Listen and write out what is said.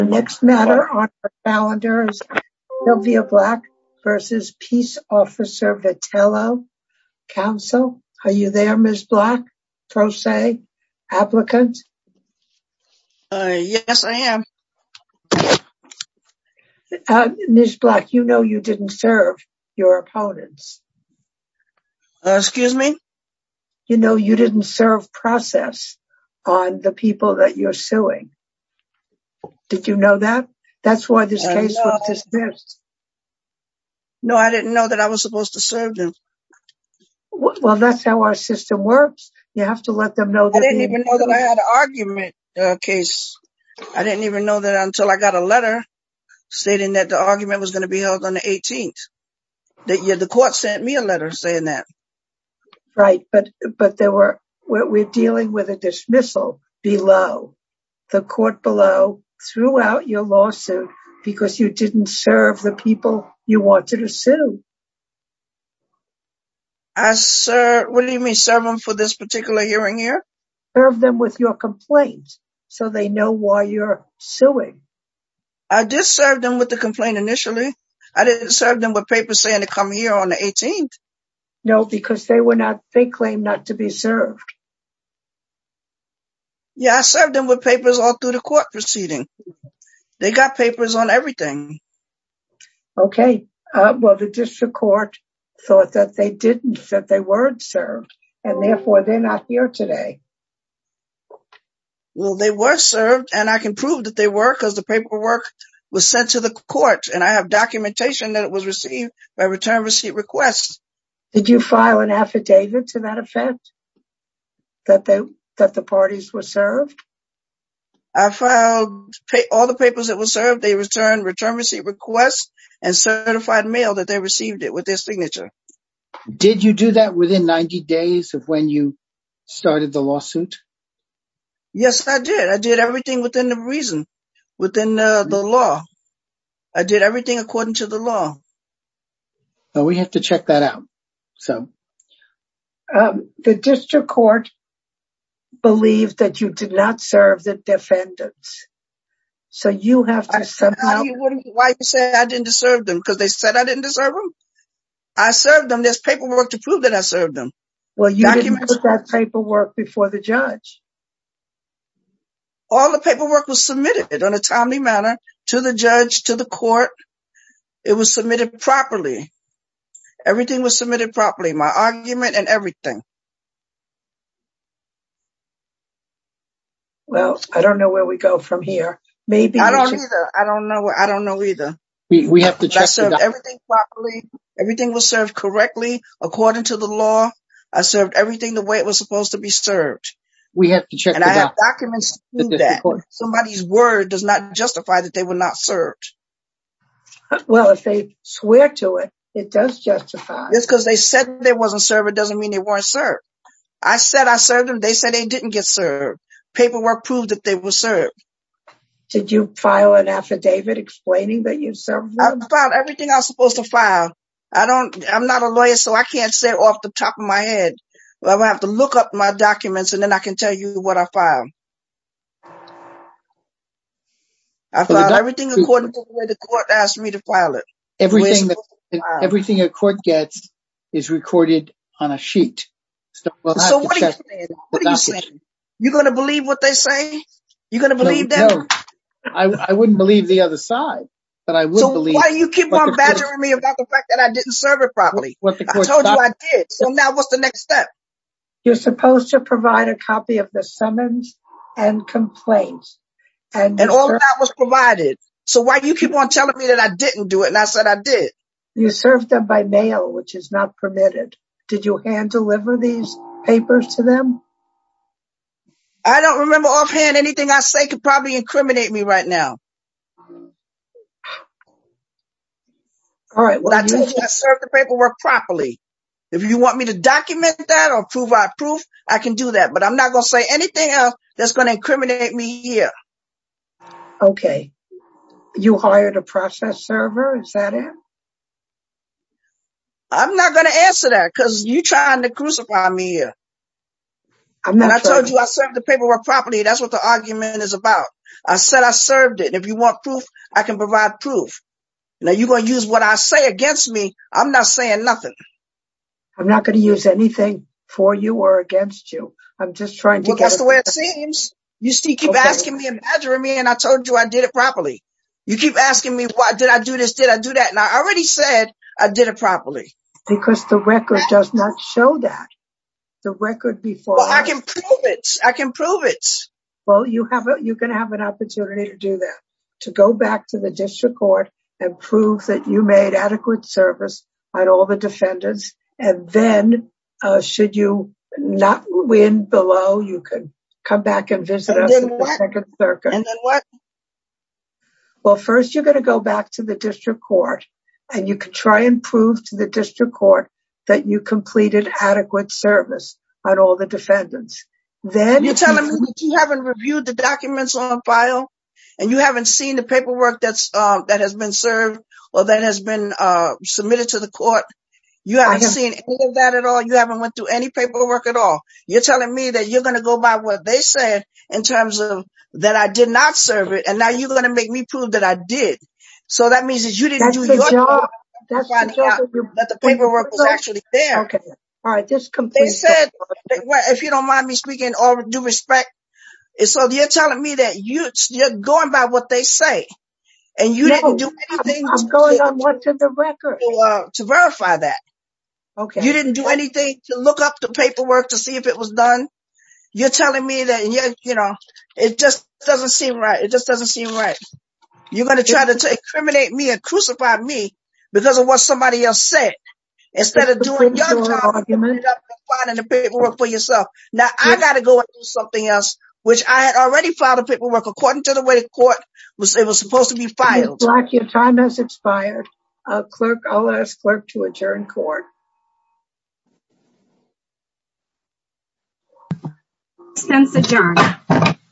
The next matter on our calendar is Sylvia Black v. Peace Officer Vitello, counsel. Are you there Ms. Black, pro se, applicant? Yes, I am. Ms. Black, you know you didn't serve your opponents. Excuse me? You know you didn't serve process on the people that you're suing. Did you know that? That's why this case was dismissed. No, I didn't know that I was supposed to serve them. Well, that's how our system works. You have to let them know that... I didn't even know that I had an argument case. I didn't even know that until I got a letter stating that the argument was going to be held on the 18th. The court sent me a letter saying that. Right, but we're dealing with a dismissal below. The court below threw out your lawsuit because you didn't serve the people you wanted to sue. What do you mean serve them for this particular hearing here? Serve them with your complaint so they know why you're suing. I did serve them with the complaint initially. I didn't serve them with papers saying to come here on the 18th. No, because they claim not to be served. Yeah, I served them with papers all through the court proceeding. They got papers on everything. Okay, well the district court thought that they didn't, that they weren't served. And therefore, they're not here today. Well, they were served and I can prove that they were because the paperwork was sent to the court. And I have documentation that it was received by return receipt requests. Did you file an affidavit to that effect? That the parties were served? I filed all the papers that were served. They returned return receipt requests and certified mail that they received it with their signature. Did you do that within 90 days of when you started the lawsuit? Yes, I did. I did everything within the reason, within the law. I did everything according to the law. Well, we have to check that out. The district court believed that you did not serve the defendants. So you have to somehow... Why are you saying I didn't deserve them? Because they said I didn't deserve them? I served them. There's paperwork to prove that I served them. Well, you didn't put that paperwork before the judge. All the paperwork was submitted in a timely manner to the judge, to the court. It was submitted properly. Everything was submitted properly. My argument and everything. Well, I don't know where we go from here. I don't either. I don't know either. I served everything properly. Everything was served correctly according to the law. I served everything the way it was supposed to be served. And I have documents to prove that. Somebody's word does not justify that they were not served. Well, if they swear to it, it does justify. It's because they said they weren't served. It doesn't mean they weren't served. I said I served them. They said they didn't get served. Paperwork proved that they were served. Did you file an affidavit explaining that you served them? I filed everything I was supposed to file. I'm not a lawyer, so I can't say off the top of my head. I'm going to have to look up my documents and then I can tell you what I filed. I filed everything according to the way the court asked me to file it. Everything a court gets is recorded on a sheet. So what are you saying? What are you saying? You're going to believe what they say? You're going to believe that? I wouldn't believe the other side. So why do you keep on badgering me about the fact that I didn't serve it properly? I told you I did. So now what's the next step? You're supposed to provide a copy of the summons and complaints. And all that was provided. So why do you keep on telling me that I didn't do it and I said I did? You served them by mail, which is not permitted. Did you hand deliver these papers to them? I don't remember offhand. Anything I say could probably incriminate me right now. All right. Well, I told you I served the paperwork properly. If you want me to document that or provide proof, I can do that. But I'm not going to say anything else that's going to incriminate me here. Okay. You hired a process server. Is that it? I'm not going to answer that because you're trying to crucify me here. I told you I served the paperwork properly. That's what the argument is about. I said I served it. If you want proof, I can provide proof. Now you're going to use what I say against me. I'm not saying nothing. I'm not going to use anything for you or against you. That's the way it seems. You keep asking me and badgering me and I told you I did it properly. You keep asking me, did I do this? Did I do that? And I already said I did it properly. Because the record does not show that. I can prove it. Well, you can have an opportunity to do that. To go back to the district court and prove that you made adequate service on all the defendants. And then, should you not win below, you can come back and visit us at the second circuit. And then what? Well, first you're going to go back to the district court. And you can try and prove to the district court that you completed adequate service on all the defendants. You're telling me that you haven't reviewed the documents on file? And you haven't seen the paperwork that has been served or that has been submitted to the court? You haven't seen any of that at all? You haven't went through any paperwork at all? You're telling me that you're going to go by what they said in terms of that I did not serve it. And now you're going to make me prove that I did. So that means that you didn't do your job. That the paperwork was actually there. They said, if you don't mind me speaking in all due respect. So you're telling me that you're going by what they say. And you didn't do anything to verify that. You didn't do anything to look up the paperwork to see if it was done. You're telling me that, you know, it just doesn't seem right. It just doesn't seem right. You're going to try to incriminate me and crucify me because of what somebody else said. Instead of doing your job, you ended up filing the paperwork for yourself. Now I got to go and do something else. Which I had already filed the paperwork according to the way the court said it was supposed to be filed. Your time has expired. I'll ask the clerk to adjourn court. Since adjourned.